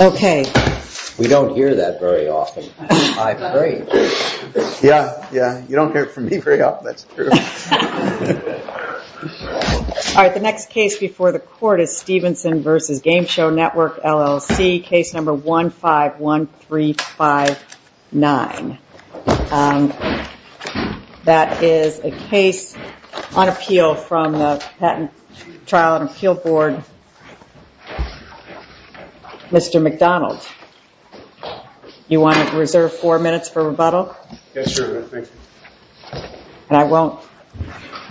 All right, the next case before the court is Stevenson v. Game Show Network, LLC Case No. 151359. That is a case on appeal from the Patent Trial and Appeal Board. Mr. McDonald, you want to reserve four minutes for rebuttal? Yes, thank you. And I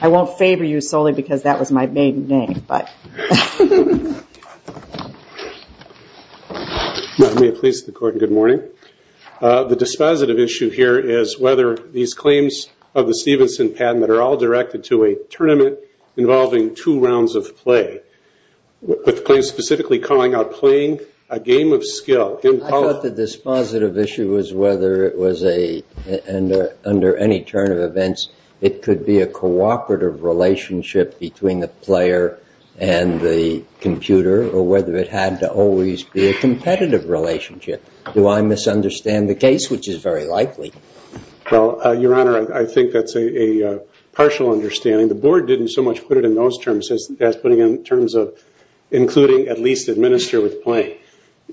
won't favor you solely because that was my main thing, but... Ma'am, may it please the court, good morning. The dispositive issue here is whether these claims of the Stevenson patent are all directed to a tournament involving two rounds of play, with the claim specifically calling out playing a game of skill. I thought the dispositive issue was whether, under any turn of events, it could be a cooperative relationship between the player and the computer, or whether it had to always be a competitive relationship. Do I misunderstand the case, which is very likely? Well, Your Honor, I think that's a partial understanding. The board didn't so much put it in those terms as putting it in terms of including at least administer with play.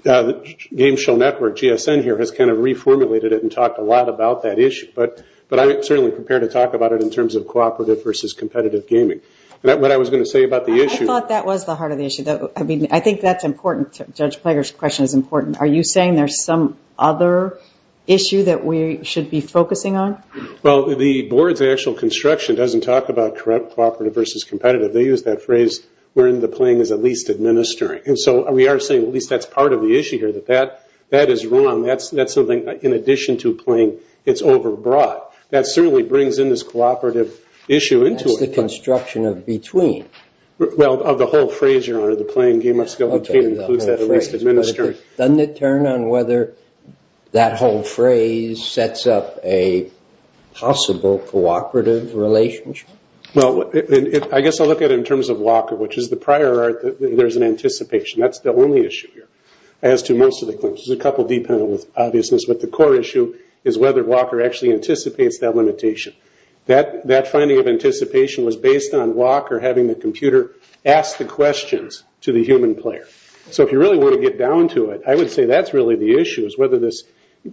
Game Show Network, GSN here, has kind of reformulated it and talked a lot about that issue, but I'm certainly prepared to talk about it in terms of cooperative versus competitive gaming. I thought that was the heart of the issue. I think that's important. Judge Plager's question is important. Are you saying there's some other issue that we should be focusing on? Well, the board's actual construction doesn't talk about cooperative versus competitive. They use that phrase, where the playing is at least administering. We are saying, at least that's part of the issue here, that that is wrong. That's something, in addition to playing, it's over-broad. That certainly brings in this cooperative issue into it. That's the construction of between. Well, of the whole phrase, Your Honor, the playing game of skill, which includes that at least administering. Doesn't it turn on whether that whole phrase sets up a possible cooperative relationship? Well, I guess I'll look at it in terms of Walker, which is the prior art that there's an anticipation. That's the only issue here, as to most of the claims. There's a couple dependent on obviousness, but the core issue is whether Walker actually anticipates that limitation. That finding of anticipation was based on Walker having the computer ask the questions to the human player. So if you really want to get down to it, I would say that's really the issue, is whether this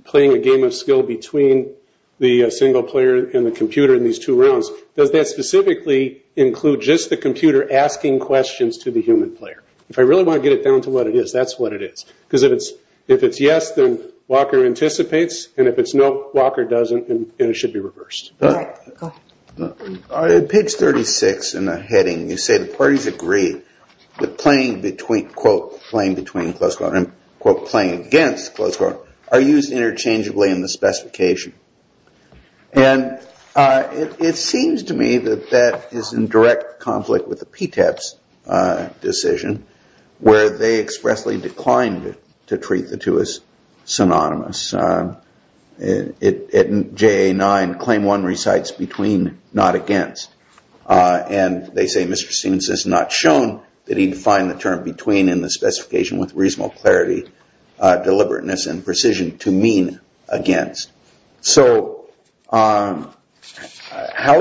playing a game of skill between the single player and the computer in these two rounds, does that specifically include just the computer asking questions to the human player? If I really want to get it down to what it is, that's what it is. Because if it's yes, then Walker anticipates, and if it's no, Walker doesn't, and it should be reversed. All right, go ahead. Page 36 in the heading, you say the parties agree that playing between, quote, playing between closed court and, quote, playing against closed court, are used interchangeably in the specification. And it seems to me that that is in direct conflict with the PTEP's decision, where they expressly declined to treat the two as synonymous. At JA-9, claim one recites between, not against. And they say Mr. Stevens has not shown that he defined the term between in the specification with reasonable clarity, deliberateness, and precision to mean against. So how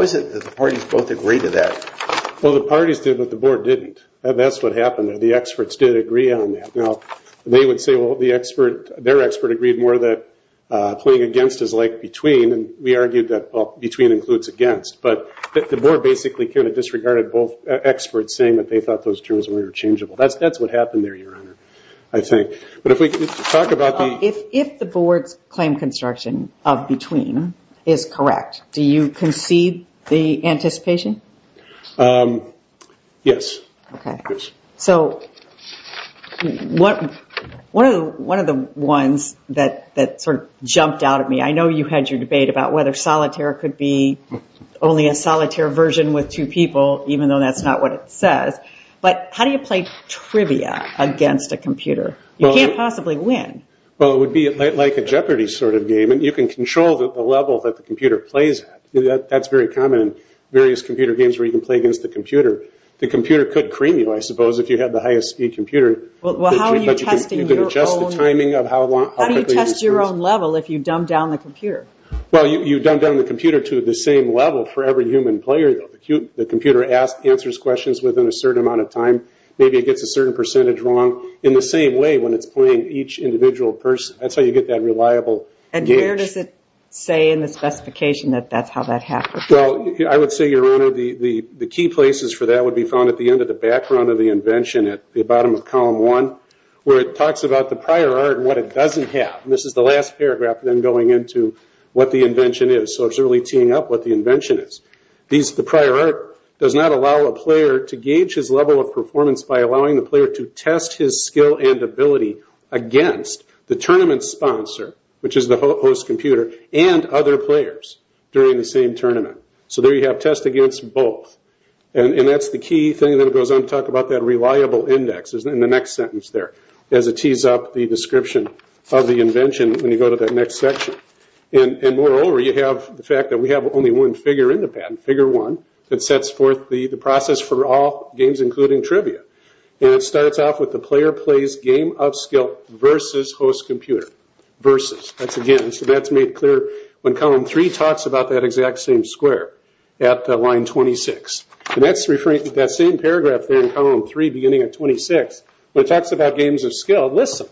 is it that the parties both agree to that? Well, the parties did, but the board didn't. That's what happened there. The experts did agree on that. Now, they would say, well, their expert agreed more that playing against is like between, and we argued that between includes against. But the board basically kind of disregarded both experts saying that they thought those terms were interchangeable. That's what happened there, Your Honor, I think. If the board's claim construction of between is correct, do you concede the anticipation? Yes. So one of the ones that sort of jumped out at me, I know you had your debate about whether solitaire could be only a solitaire version with two people, even though that's not what it says. But how do you play trivia against a computer? You can't possibly win. Well, it would be like a Jeopardy sort of game. And you can control the level that the computer plays at. That's very common in various computer games where you can play against the computer. The computer could cream you, I suppose, if you had the highest speed computer. Well, how are you testing your own? You can adjust the timing of how quickly it speeds. How do you test your own level if you dumb down the computer? Well, you dumb down the computer to the same level for every human player. The computer answers questions within a certain amount of time. Maybe it gets a certain percentage wrong. In the same way when it's playing each individual person. That's how you get that reliable gauge. And where does it say in the specification that that's how that happens? Well, I would say, Your Honor, the key places for that would be found at the end of the background of the invention at the bottom of column one, where it talks about the prior art and what it doesn't have. And this is the last paragraph then going into what the invention is. So it's really teeing up what the invention is. The prior art does not allow a player to gauge his level of performance by allowing the player to test his skill and ability against the tournament sponsor, which is the host computer, and other players during the same tournament. So there you have test against both. And that's the key thing that goes on to talk about that reliable index in the next sentence there, as it tees up the description of the invention when you go to that next section. And moreover, you have the fact that we have only one figure in the patent, figure one, that sets forth the process for all games including trivia. And it starts off with the player plays game of skill versus host computer. Versus. That's again, so that's made clear when column three talks about that exact same square at line 26. And that's referring to that same paragraph there in column three beginning at 26. When it talks about games of skill, listen,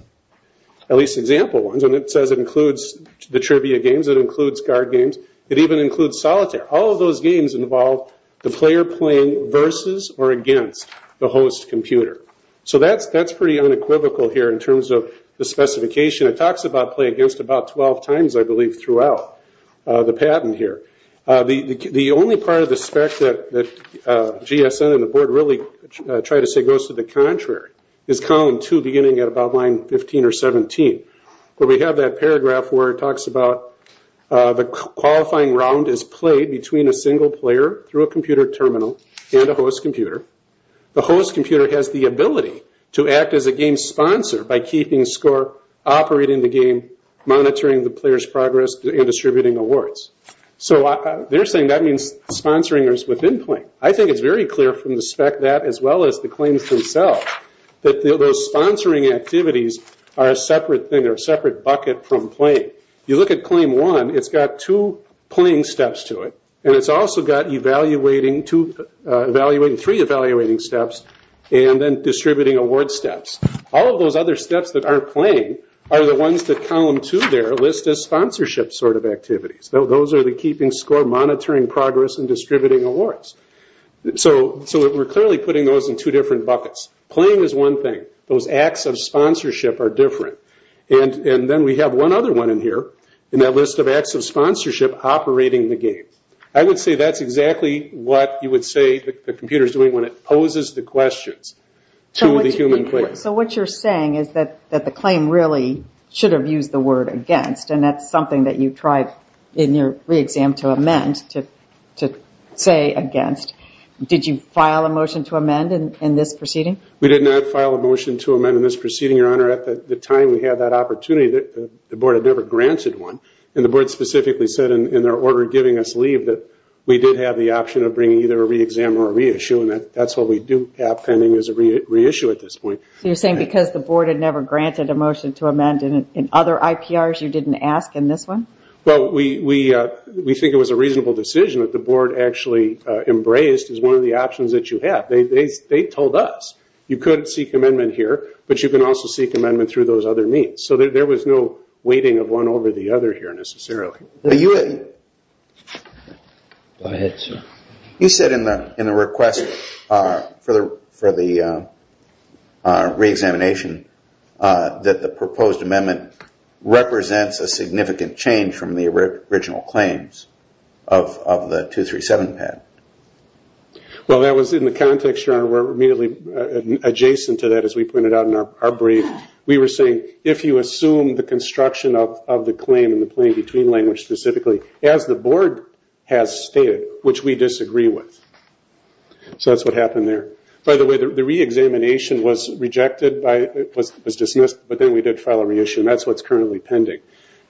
at least example ones, and it says it includes the trivia games, it includes guard games, it even includes solitaire. All of those games involve the player playing versus or against the host computer. So that's pretty unequivocal here in terms of the specification. It talks about play against about 12 times, I believe, throughout the patent here. The only part of the spec that GSN and the board really try to say goes to the contrary, is column two beginning at about line 15 or 17. Where we have that paragraph where it talks about the qualifying round is played between a single player through a computer terminal and a host computer. The host computer has the ability to act as a game sponsor by keeping score, operating the game, monitoring the player's progress, and distributing awards. So they're saying that means sponsoring is within play. I think it's very clear from the spec that, as well as the claims themselves, that those sponsoring activities are a separate thing or a separate bucket from play. You look at claim one, it's got two playing steps to it. And it's also got three evaluating steps and then distributing award steps. All of those other steps that aren't playing are the ones that column two there list as sponsorship sort of activities. Those are the keeping score, monitoring progress, and distributing awards. So we're clearly putting those in two different buckets. Playing is one thing. Those acts of sponsorship are different. And then we have one other one in here in that list of acts of sponsorship operating the game. I would say that's exactly what you would say the computer is doing when it poses the questions to the human player. So what you're saying is that the claim really should have used the word against. And that's something that you tried in your re-exam to amend to say against. Did you file a motion to amend in this proceeding? We did not file a motion to amend in this proceeding, Your Honor. At the time we had that opportunity, the Board had never granted one. And the Board specifically said in their order giving us leave that we did have the option of bringing either a re-exam or a re-issue. And that's what we do have pending as a re-issue at this point. So you're saying because the Board had never granted a motion to amend in other IPRs you didn't ask in this one? Well, we think it was a reasonable decision that the Board actually embraced as one of the options that you have. They told us you could seek amendment here, but you can also seek amendment through those other means. So there was no weighting of one over the other here necessarily. Go ahead, sir. You said in the request for the re-examination that the proposed amendment represents a significant change from the original claims of the 237 PAD. Well, that was in the context, Your Honor, where immediately adjacent to that as we pointed out in our brief, we were saying if you assume the construction of the claim in the plain between language specifically, as the Board has stated, which we disagree with. So that's what happened there. By the way, the re-examination was rejected, was dismissed, but then we did file a re-issue. And that's what's currently pending.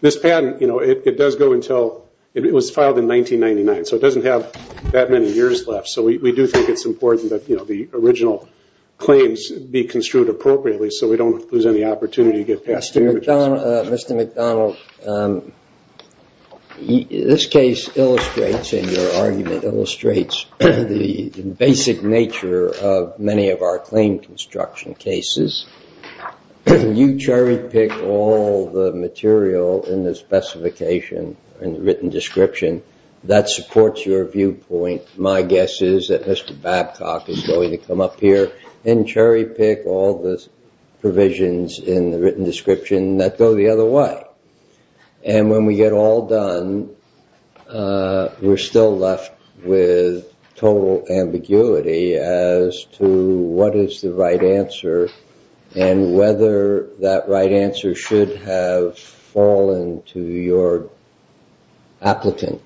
This patent, it was filed in 1999, so it doesn't have that many years left. So we do think it's important that the original claims be construed appropriately so we don't lose any opportunity to get past damages. Mr. McDonald, this case illustrates, in your argument, illustrates the basic nature of many of our claim construction cases. You cherry-picked all the material in the specification, in the written description, that supports your viewpoint. My guess is that Mr. Babcock is going to come up here and cherry-pick all the provisions in the written description that go the other way. And when we get all done, we're still left with total ambiguity as to what is the right answer and whether that right answer should have fallen to your applicant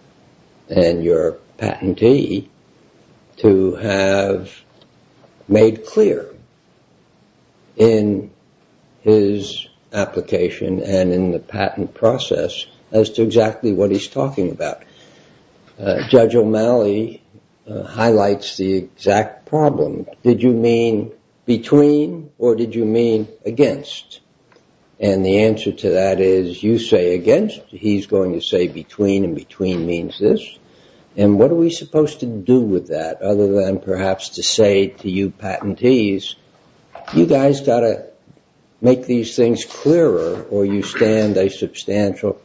and your patentee to have made clear in his application and in the patent process as to exactly what he's talking about. Judge O'Malley highlights the exact problem. Did you mean between or did you mean against? And the answer to that is you say against, he's going to say between, and between means this. And what are we supposed to do with that other than perhaps to say to you patentees, you guys got to make these things clearer or you stand a substantial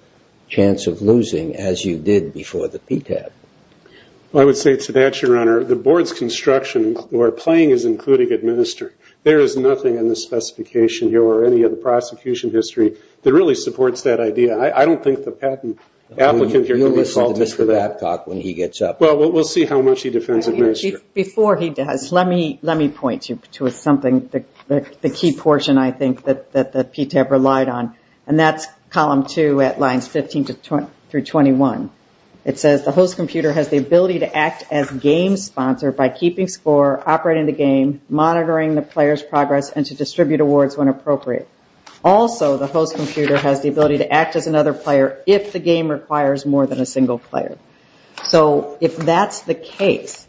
chance of losing as you did before the PTAP. I would say to that, Your Honor, the board's construction or playing is including administer. There is nothing in the specification here or any of the prosecution history that really supports that idea. I don't think the patent applicant here can be faulted for that. You'll listen to Mr. Babcock when he gets up. Well, we'll see how much he defends administer. Before he does, let me point you to something, the key portion, I think, that the PTAP relied on, and that's column two at lines 15 through 21. It says the host computer has the ability to act as game sponsor by keeping score, operating the game, monitoring the player's progress, and to distribute awards when appropriate. Also, the host computer has the ability to act as another player if the game requires more than a single player. So if that's the case,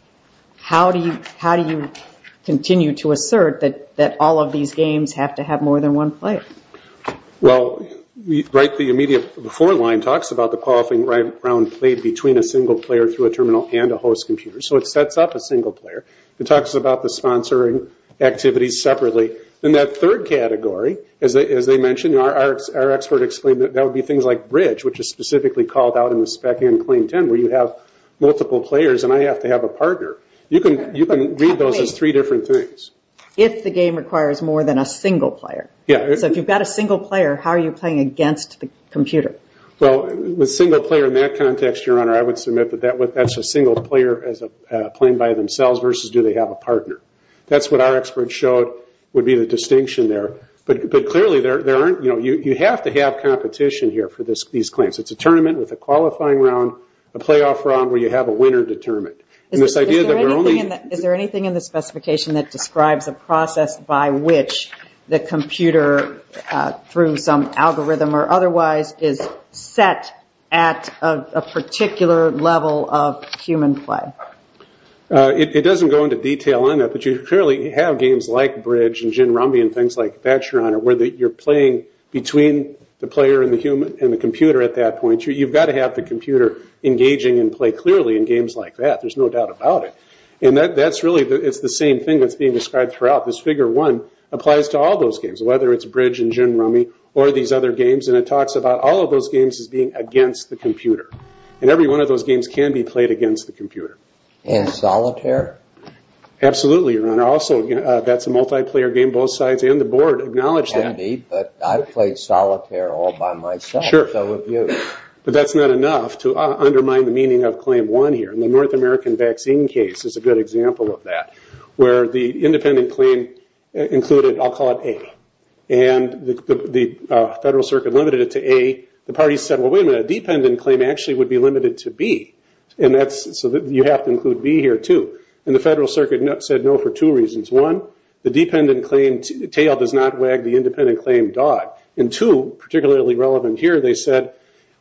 how do you continue to assert that all of these games have to have more than one player? Well, the immediate before line talks about the qualifying round played between a single player through a terminal and a host computer. So it sets up a single player. It talks about the sponsoring activities separately. In that third category, as they mentioned, our expert explained that that would be things like bridge, which is specifically called out in the spec and claim ten where you have multiple players and I have to have a partner. You can read those as three different things. If the game requires more than a single player. So if you've got a single player, how are you playing against the computer? Well, with single player in that context, Your Honor, I would submit that that's a single player playing by themselves versus do they have a partner. That's what our expert showed would be the distinction there. But clearly, you have to have competition here for these claims. It's a tournament with a qualifying round, a playoff round where you have a winner determined. Is there anything in the specification that describes a process by which the computer, through some algorithm or otherwise, is set at a particular level of human play? It doesn't go into detail on that. But you clearly have games like bridge and gin rumby and things like that, Your Honor, where you're playing between the player and the computer at that point. You've got to have the computer engaging and play clearly in games like that. There's no doubt about it. It's the same thing that's being described throughout. This figure one applies to all those games, whether it's bridge and gin rummy or these other games. It talks about all of those games as being against the computer. Every one of those games can be played against the computer. And solitaire? Absolutely, Your Honor. Also, that's a multiplayer game. Both sides and the board acknowledge that. I've played solitaire all by myself, so have you. But that's not enough to undermine the meaning of Claim 1 here. The North American vaccine case is a good example of that, where the independent claim included, I'll call it A, and the Federal Circuit limited it to A. The parties said, well, wait a minute, a dependent claim actually would be limited to B. So you have to include B here, too. And the Federal Circuit said no for two reasons. One, the dependent claim tail does not wag the independent claim dog. And two, particularly relevant here, they said,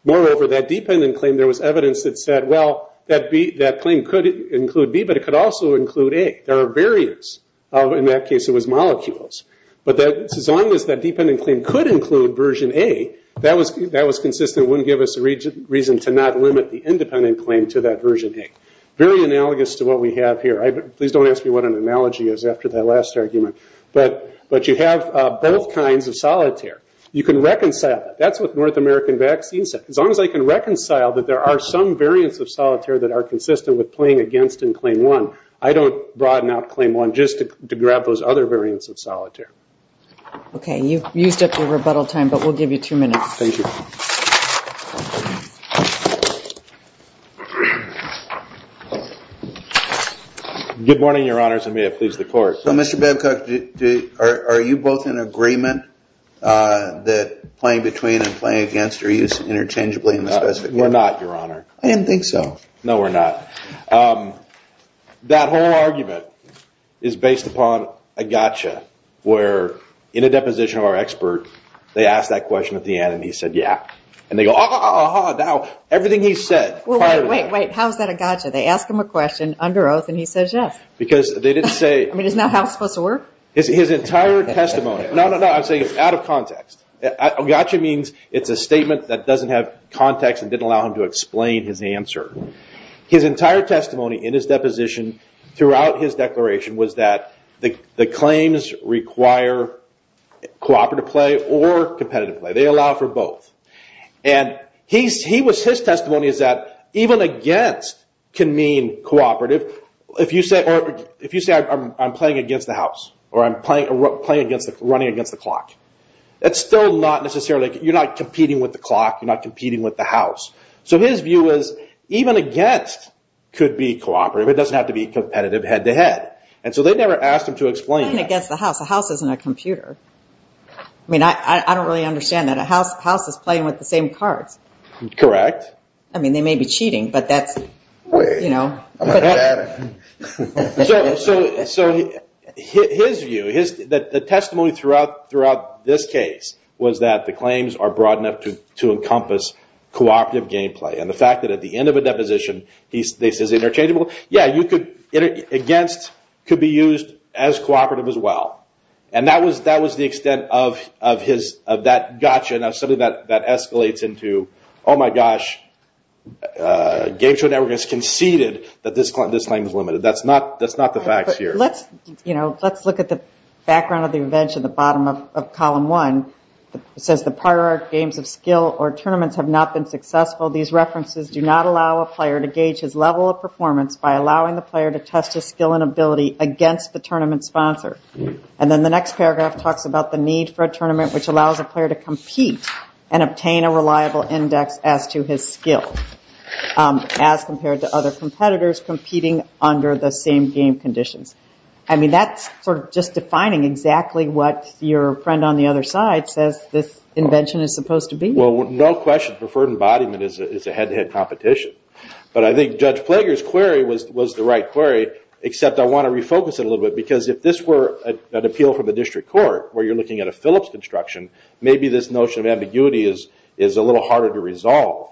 moreover, that dependent claim, there was evidence that said, well, that claim could include B, but it could also include A. There are barriers. In that case, it was molecules. But as long as that dependent claim could include version A, that was consistent. It wouldn't give us a reason to not limit the independent claim to that version A. Very analogous to what we have here. Please don't ask me what an analogy is after that last argument. But you have both kinds of solitaire. You can reconcile that. That's what the North American vaccine said. As long as I can reconcile that there are some variants of solitaire that are consistent with playing against Claim 1, I don't broaden out Claim 1 just to grab those other variants of solitaire. Okay. You've used up your rebuttal time, but we'll give you two minutes. Thank you. Good morning, Your Honors, and may it please the Court. Mr. Babcock, are you both in agreement that playing between and playing against are used interchangeably in this specific case? We're not, Your Honor. I didn't think so. No, we're not. That whole argument is based upon a gotcha, where in a deposition of our expert, they asked that question at the end, and he said, yeah. And they go, ah, ah, ah, ah, now everything he said prior to that. Wait, wait, wait. How is that a gotcha? They ask him a question under oath, and he says, yes. Because they didn't say. I mean, isn't that how it's supposed to work? His entire testimony. No, no, no. I'm saying it's out of context. A gotcha means it's a statement that doesn't have context and didn't allow him to explain his answer. His entire testimony in his deposition throughout his declaration was that the claims require cooperative play or competitive play. They allow for both. And his testimony is that even against can mean cooperative. If you say I'm playing against the house or I'm running against the clock, that's still not necessarily, you're not competing with the clock, you're not competing with the house. So his view is even against could be cooperative. It doesn't have to be competitive head to head. And so they never asked him to explain that. Playing against the house. The house isn't a computer. I mean, I don't really understand that. A house is playing with the same cards. Correct. I mean, they may be cheating, but that's, you know. So his view, the testimony throughout this case was that the claims are broad enough to encompass cooperative game play. And the fact that at the end of a deposition, they say it's interchangeable. Yeah, you could, against could be used as cooperative as well. And that was the extent of that gotcha, something that escalates into, oh, my gosh, Game Show Network has conceded that this claim is limited. That's not the facts here. Let's look at the background of the event at the bottom of column one. It says the prior games of skill or tournaments have not been successful. These references do not allow a player to gauge his level of performance by allowing the player to test his skill and ability against the tournament sponsor. And then the next paragraph talks about the need for a tournament which allows a player to compete and obtain a reliable index as to his skill as compared to other competitors competing under the same game conditions. I mean, that's sort of just defining exactly what your friend on the other side says this invention is supposed to be. Well, no question preferred embodiment is a head-to-head competition. But I think Judge Plager's query was the right query, except I want to refocus it a little bit because if this were an appeal from the district court where you're looking at a Phillips construction, maybe this notion of ambiguity is a little harder to resolve.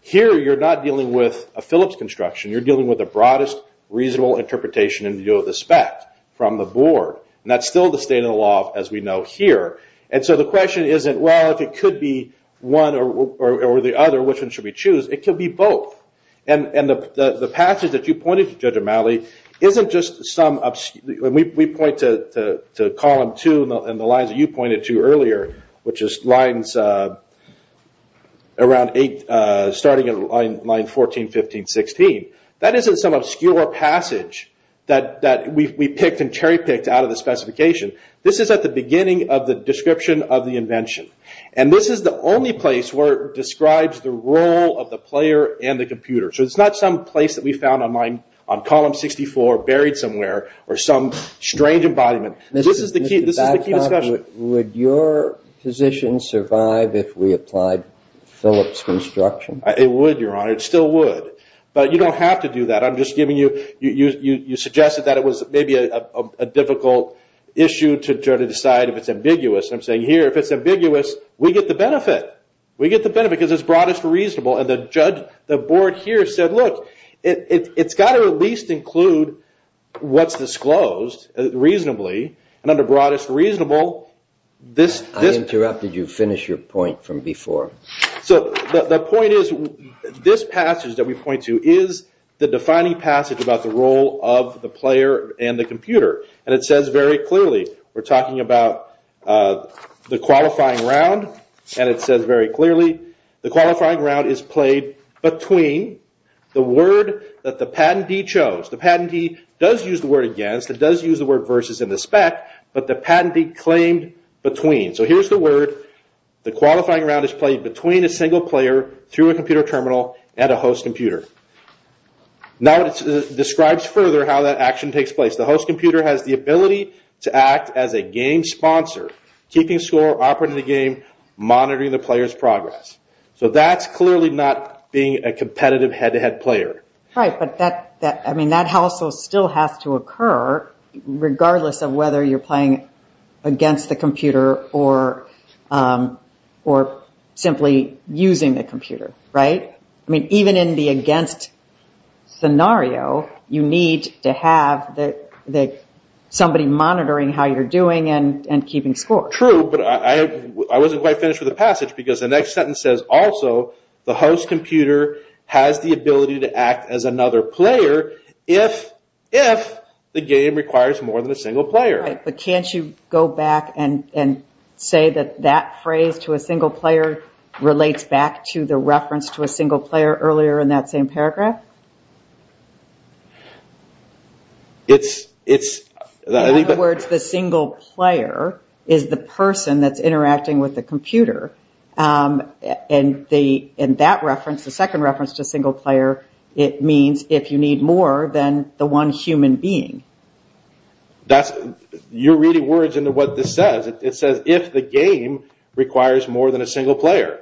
Here you're not dealing with a Phillips construction. You're dealing with the broadest reasonable interpretation in view of the spec from the board. And that's still the state of the law as we know here. And so the question isn't, well, if it could be one or the other, which one should we choose? It could be both. And the passage that you pointed to, Judge O'Malley, isn't just some obscure. We point to Column 2 and the lines that you pointed to earlier, which is lines around 8, starting at line 14, 15, 16. That isn't some obscure passage that we picked and cherry-picked out of the specification. This is at the beginning of the description of the invention. And this is the only place where it describes the role of the player and the computer. So it's not some place that we found on Column 64 buried somewhere or some strange embodiment. This is the key discussion. Would your position survive if we applied Phillips construction? It would, Your Honor. It still would. But you don't have to do that. You suggested that it was maybe a difficult issue to try to decide if it's ambiguous. And I'm saying here, if it's ambiguous, we get the benefit. We get the benefit because it's broadest reasonable. And the board here said, look, it's got to at least include what's disclosed reasonably. And under broadest reasonable, this... I interrupted you. Finish your point from before. So the point is, this passage that we point to is the defining passage about the role of the player and the computer. And it says very clearly, we're talking about the qualifying round. And it says very clearly, the qualifying round is played between the word that the patentee chose. The patentee does use the word against. It does use the word versus in the spec. But the patentee claimed between. So here's the word. The qualifying round is played between a single player through a computer terminal and a host computer. Now it describes further how that action takes place. The host computer has the ability to act as a game sponsor, keeping score, operating the game, monitoring the player's progress. So that's clearly not being a competitive head-to-head player. Right, but that household still has to occur regardless of whether you're playing against the computer or simply using the computer, right? I mean, even in the against scenario, you need to have somebody monitoring how you're doing and keeping score. True, but I wasn't quite finished with the passage because the next sentence says also, the host computer has the ability to act as another player if the game requires more than a single player. Right, but can't you go back and say that that phrase to a single player relates back to the reference to a single player earlier in that same paragraph? In other words, the single player is the person that's interacting with the computer. In that reference, the second reference to single player, it means if you need more than the one human being. You're reading words into what this says. It says if the game requires more than a single player.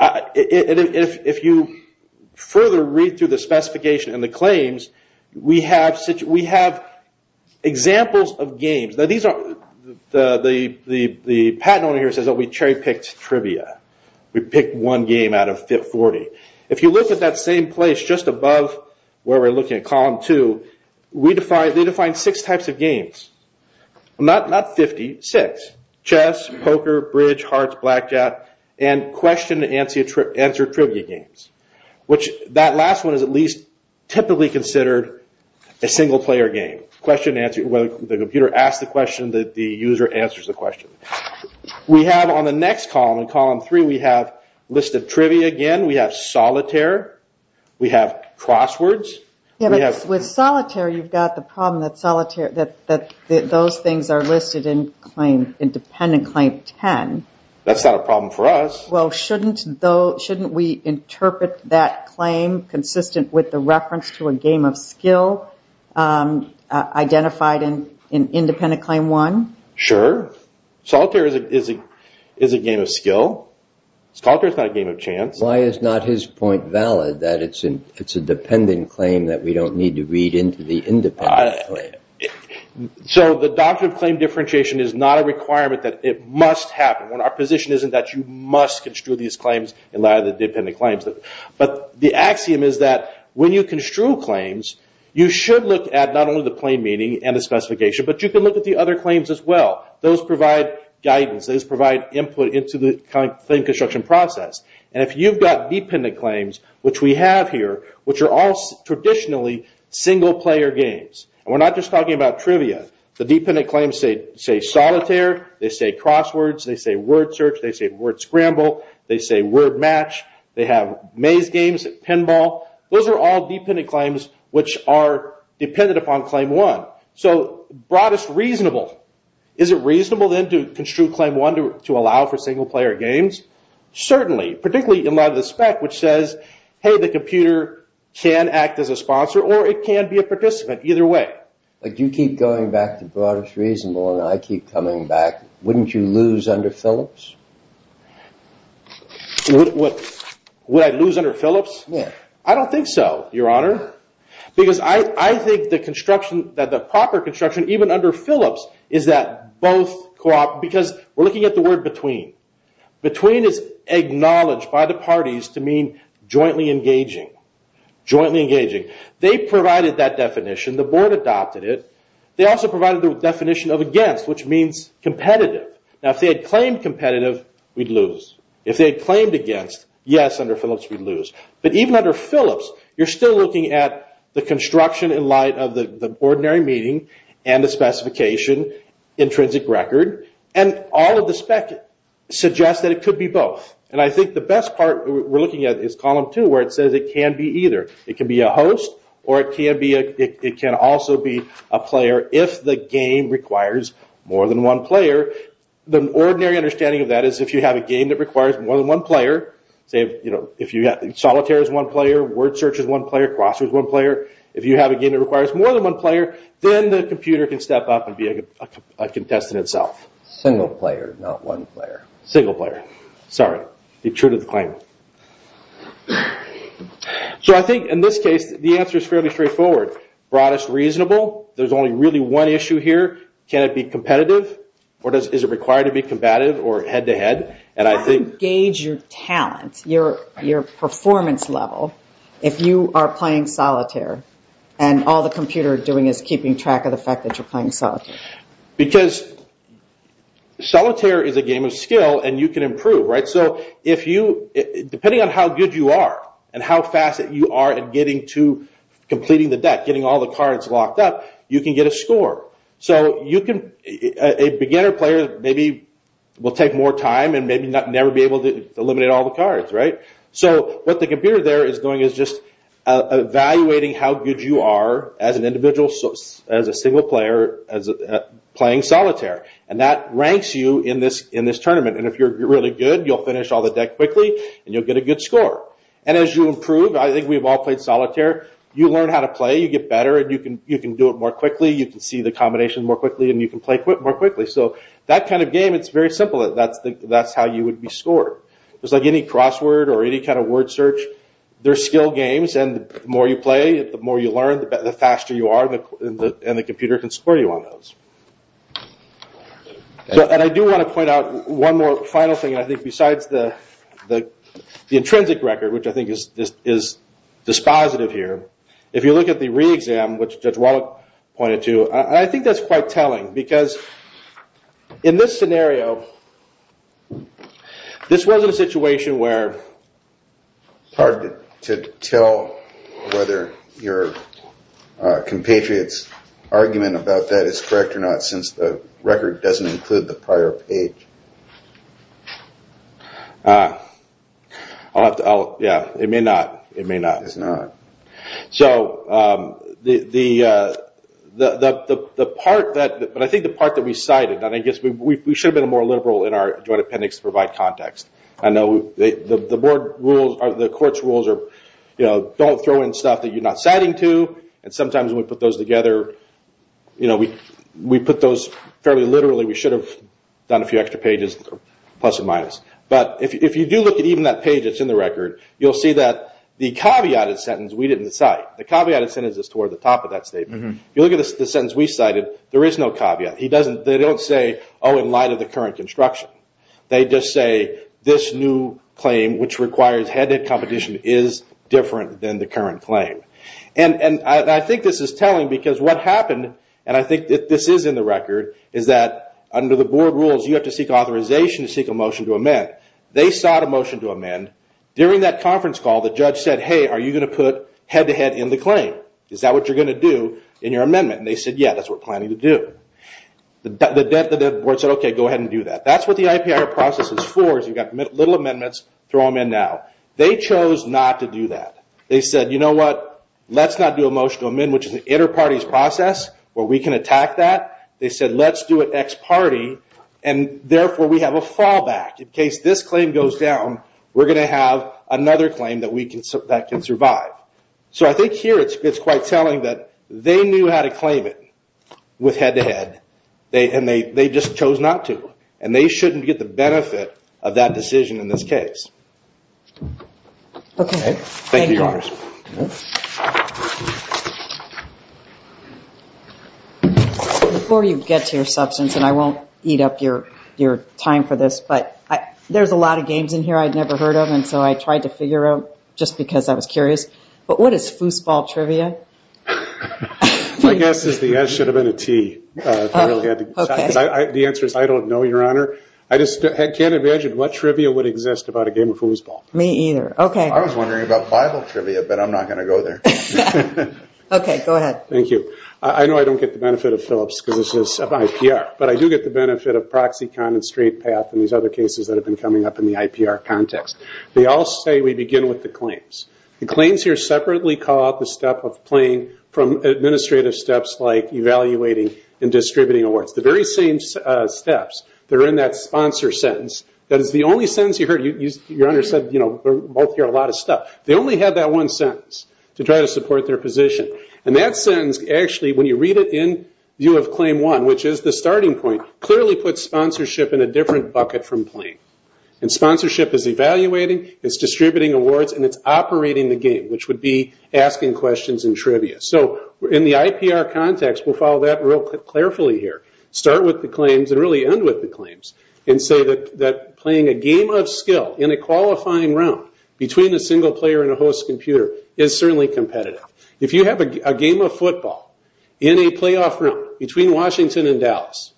If you further read through the specification and the claims, we have examples of games. The patent owner here says that we cherry picked trivia. We picked one game out of 40. If you look at that same place just above where we're looking at column two, they define six types of games. Not 50, six. Chess, poker, bridge, hearts, blackjack, and question and answer trivia games. That last one is at least typically considered a single player game. The computer asks the question. The user answers the question. We have on the next column, in column three, we have listed trivia again. We have solitaire. We have crosswords. With solitaire, you've got the problem that those things are listed in independent claim 10. That's not a problem for us. Shouldn't we interpret that claim consistent with the reference to a game of skill identified in independent claim one? Sure. Solitaire is a game of skill. It's not a game of chance. Why is not his point valid that it's a dependent claim that we don't need to read into the independent claim? The doctrine of claim differentiation is not a requirement that it must happen. Our position isn't that you must construe these claims and allow the dependent claims. The axiom is that when you construe claims, you should look at not only the claim meaning and the specification, but you can look at the other claims as well. Those provide guidance. Those provide input into the claim construction process. If you've got dependent claims, which we have here, which are all traditionally single player games, and we're not just talking about trivia. The dependent claims say solitaire. They say crosswords. They say word search. They say word scramble. They say word match. They have maze games, pinball. Those are all dependent claims, which are dependent upon claim one. So broadest reasonable. Is it reasonable then to construe claim one to allow for single player games? Certainly. Particularly in light of the spec, which says, hey, the computer can act as a sponsor, or it can be a participant. Either way. If you keep going back to broadest reasonable and I keep coming back, wouldn't you lose under Phillips? Would I lose under Phillips? I don't think so, Your Honor. Because I think that the proper construction, even under Phillips, is that both cooperate. Because we're looking at the word between. Between is acknowledged by the parties to mean jointly engaging. They provided that definition. The board adopted it. They also provided the definition of against, which means competitive. Now, if they had claimed competitive, we'd lose. If they had claimed against, yes, under Phillips, we'd lose. But even under Phillips, you're still looking at the construction in light of the ordinary meeting and the specification, intrinsic record, and all of the spec suggests that it could be both. And I think the best part we're looking at is column two, where it says it can be either. It can be a host or it can also be a player if the game requires more than one player. The ordinary understanding of that is if you have a game that requires more than one player, say if Solitaire is one player, Word Search is one player, CrossFit is one player, if you have a game that requires more than one player, then the computer can step up and be a contestant itself. Single player, not one player. Single player. Sorry. It true to the claim. So I think in this case, the answer is fairly straightforward. Broadest reasonable. There's only really one issue here. Can it be competitive or is it required to be competitive or head-to-head? How do you gauge your talent, your performance level, if you are playing Solitaire and all the computer is doing is keeping track of the fact that you're playing Solitaire? Because Solitaire is a game of skill and you can improve. Depending on how good you are and how fast you are at completing the deck, getting all the cards locked up, you can get a score. A beginner player maybe will take more time and maybe never be able to eliminate all the cards. So what the computer there is doing is just evaluating how good you are as an individual, as a single player, playing Solitaire. And that ranks you in this tournament. And if you're really good, you'll finish all the deck quickly and you'll get a good score. And as you improve, I think we've all played Solitaire, you learn how to play, you get better and you can do it more quickly. You can see the combination more quickly and you can play more quickly. So that kind of game, it's very simple. That's how you would be scored. It's like any crossword or any kind of word search. They're skill games and the more you play, the more you learn, the faster you are and the computer can score you on those. And I do want to point out one more final thing. I think besides the intrinsic record, which I think is dispositive here, if you look at the re-exam, which Judge Wallach pointed to, I think that's quite telling because in this scenario, this was a situation where it's hard to tell whether your compatriot's argument about that is correct or not since the record doesn't include the prior page. It may not. It's not. But I think the part that we cited, we should have been more liberal in our joint appendix to provide context. The court's rules are don't throw in stuff that you're not citing to and sometimes when we put those together, we put those fairly literally. We should have done a few extra pages, plus or minus. But if you do look at even that page that's in the record, you'll see that the caveated sentence we didn't cite. The caveated sentence is toward the top of that statement. If you look at the sentence we cited, there is no caveat. They don't say, oh, in light of the current construction. They just say, this new claim which requires head-to-head competition is different than the current claim. I think this is telling because what happened, and I think this is in the record, is that under the board rules, you have to seek authorization to seek a motion to amend. They sought a motion to amend. During that conference call, the judge said, hey, are you going to put head-to-head in the claim? Is that what you're going to do in your amendment? They said, yeah, that's what we're planning to do. The board said, okay, go ahead and do that. That's what the IPR process is for, is you've got little amendments, throw them in now. They chose not to do that. They said, you know what, let's not do a motion to amend, which is an inter-parties process where we can attack that. They said, let's do it ex-party, and therefore we have a fallback. In case this claim goes down, we're going to have another claim that can survive. I think here it's quite telling that they knew how to claim it with head-to-head, and they just chose not to. And they shouldn't get the benefit of that decision in this case. Thank you, Your Honor. Before you get to your substance, and I won't eat up your time for this, but there's a lot of games in here I'd never heard of, and so I tried to figure out just because I was curious. But what is foosball trivia? My guess is the S should have been a T. The answer is I don't know, Your Honor. I just can't imagine what trivia would exist about a game of foosball. Me either. I was wondering about Bible trivia, but I'm not going to go there. Okay, go ahead. Thank you. I know I don't get the benefit of Phillips because this is about IPR, but I do get the benefit of ProxyCon and Straight Path and these other cases that have been coming up in the IPR context. They all say we begin with the claims. The claims here separately call out the step of plain from administrative steps like evaluating and distributing awards. The very same steps, they're in that sponsor sentence. That is the only sentence you heard. Your Honor said both hear a lot of stuff. They only have that one sentence to try to support their position. That sentence, actually, when you read it in view of Claim 1, which is the starting point, clearly puts sponsorship in a different bucket from plain. Sponsorship is evaluating, it's distributing awards, and it's operating the game, which would be asking questions and trivia. So in the IPR context, we'll follow that real carefully here. Start with the claims and really end with the claims and say that playing a game of skill in a qualifying round between a single player and a host computer is certainly competitive. If you have a game of football in a playoff round between Washington and Dallas,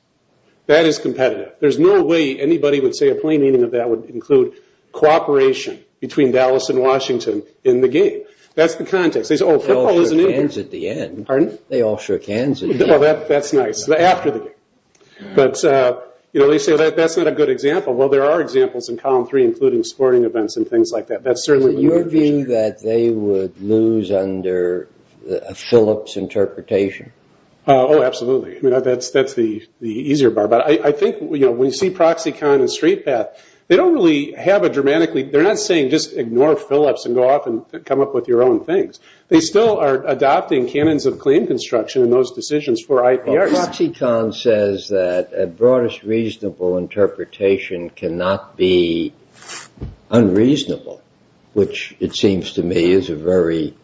that is competitive. There's no way anybody would say a plain meaning of that would include cooperation between Dallas and Washington in the game. That's the context. They all shook hands at the end. That's nice. After the game. They say that's not a good example. There are examples in Column 3, including sporting events and things like that. Your view is that they would lose under a Phillips interpretation? Absolutely. That's the easier part. When you see Proxicon and Streetpath, they're not saying just ignore Phillips and come up with your own things. They still are adopting canons of claim construction in those decisions for IPRs. Proxicon says that a broadest reasonable interpretation cannot be unreasonable, which it seems to me is a very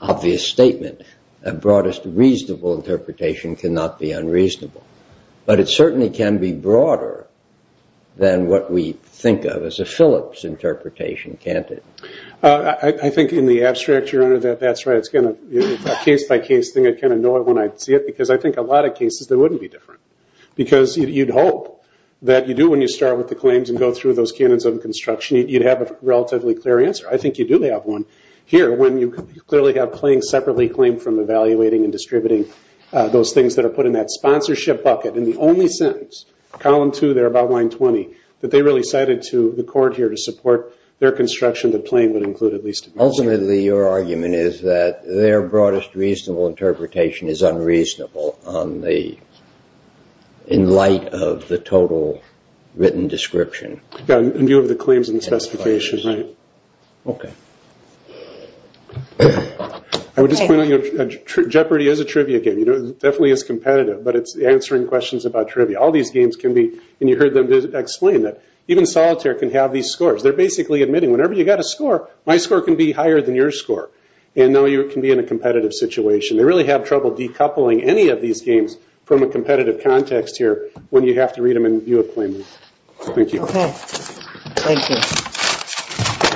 obvious statement. A broadest reasonable interpretation cannot be unreasonable. But it certainly can be broader than what we think of as a Phillips interpretation, can't it? I think in the abstract, Your Honor, that's right. It's a case-by-case thing. I kind of know it when I see it because I think a lot of cases, they wouldn't be different because you'd hope that you do when you start with the claims and go through those canons of construction. You'd have a relatively clear answer. I think you do have one here when you clearly have claims separately claimed from evaluating and distributing those things that are put in that sponsorship bucket. In the only sentence, column two there about line 20, that they really cited to the court here to support their construction, that Plain would include at least. Ultimately, your argument is that their broadest reasonable interpretation is unreasonable in light of the total written description. In view of the claims and the specifications, right? Okay. I would just point out that Jeopardy is a trivia game. It definitely is competitive, but it's answering questions about trivia. All these games can be, and you heard them explain that. Even Solitaire can have these scores. They're basically admitting whenever you got a score, my score can be higher than your score. And now you can be in a competitive situation. They really have trouble decoupling any of these games from a competitive context here when you have to read them in view of claimants. Thank you. Okay. Thank you.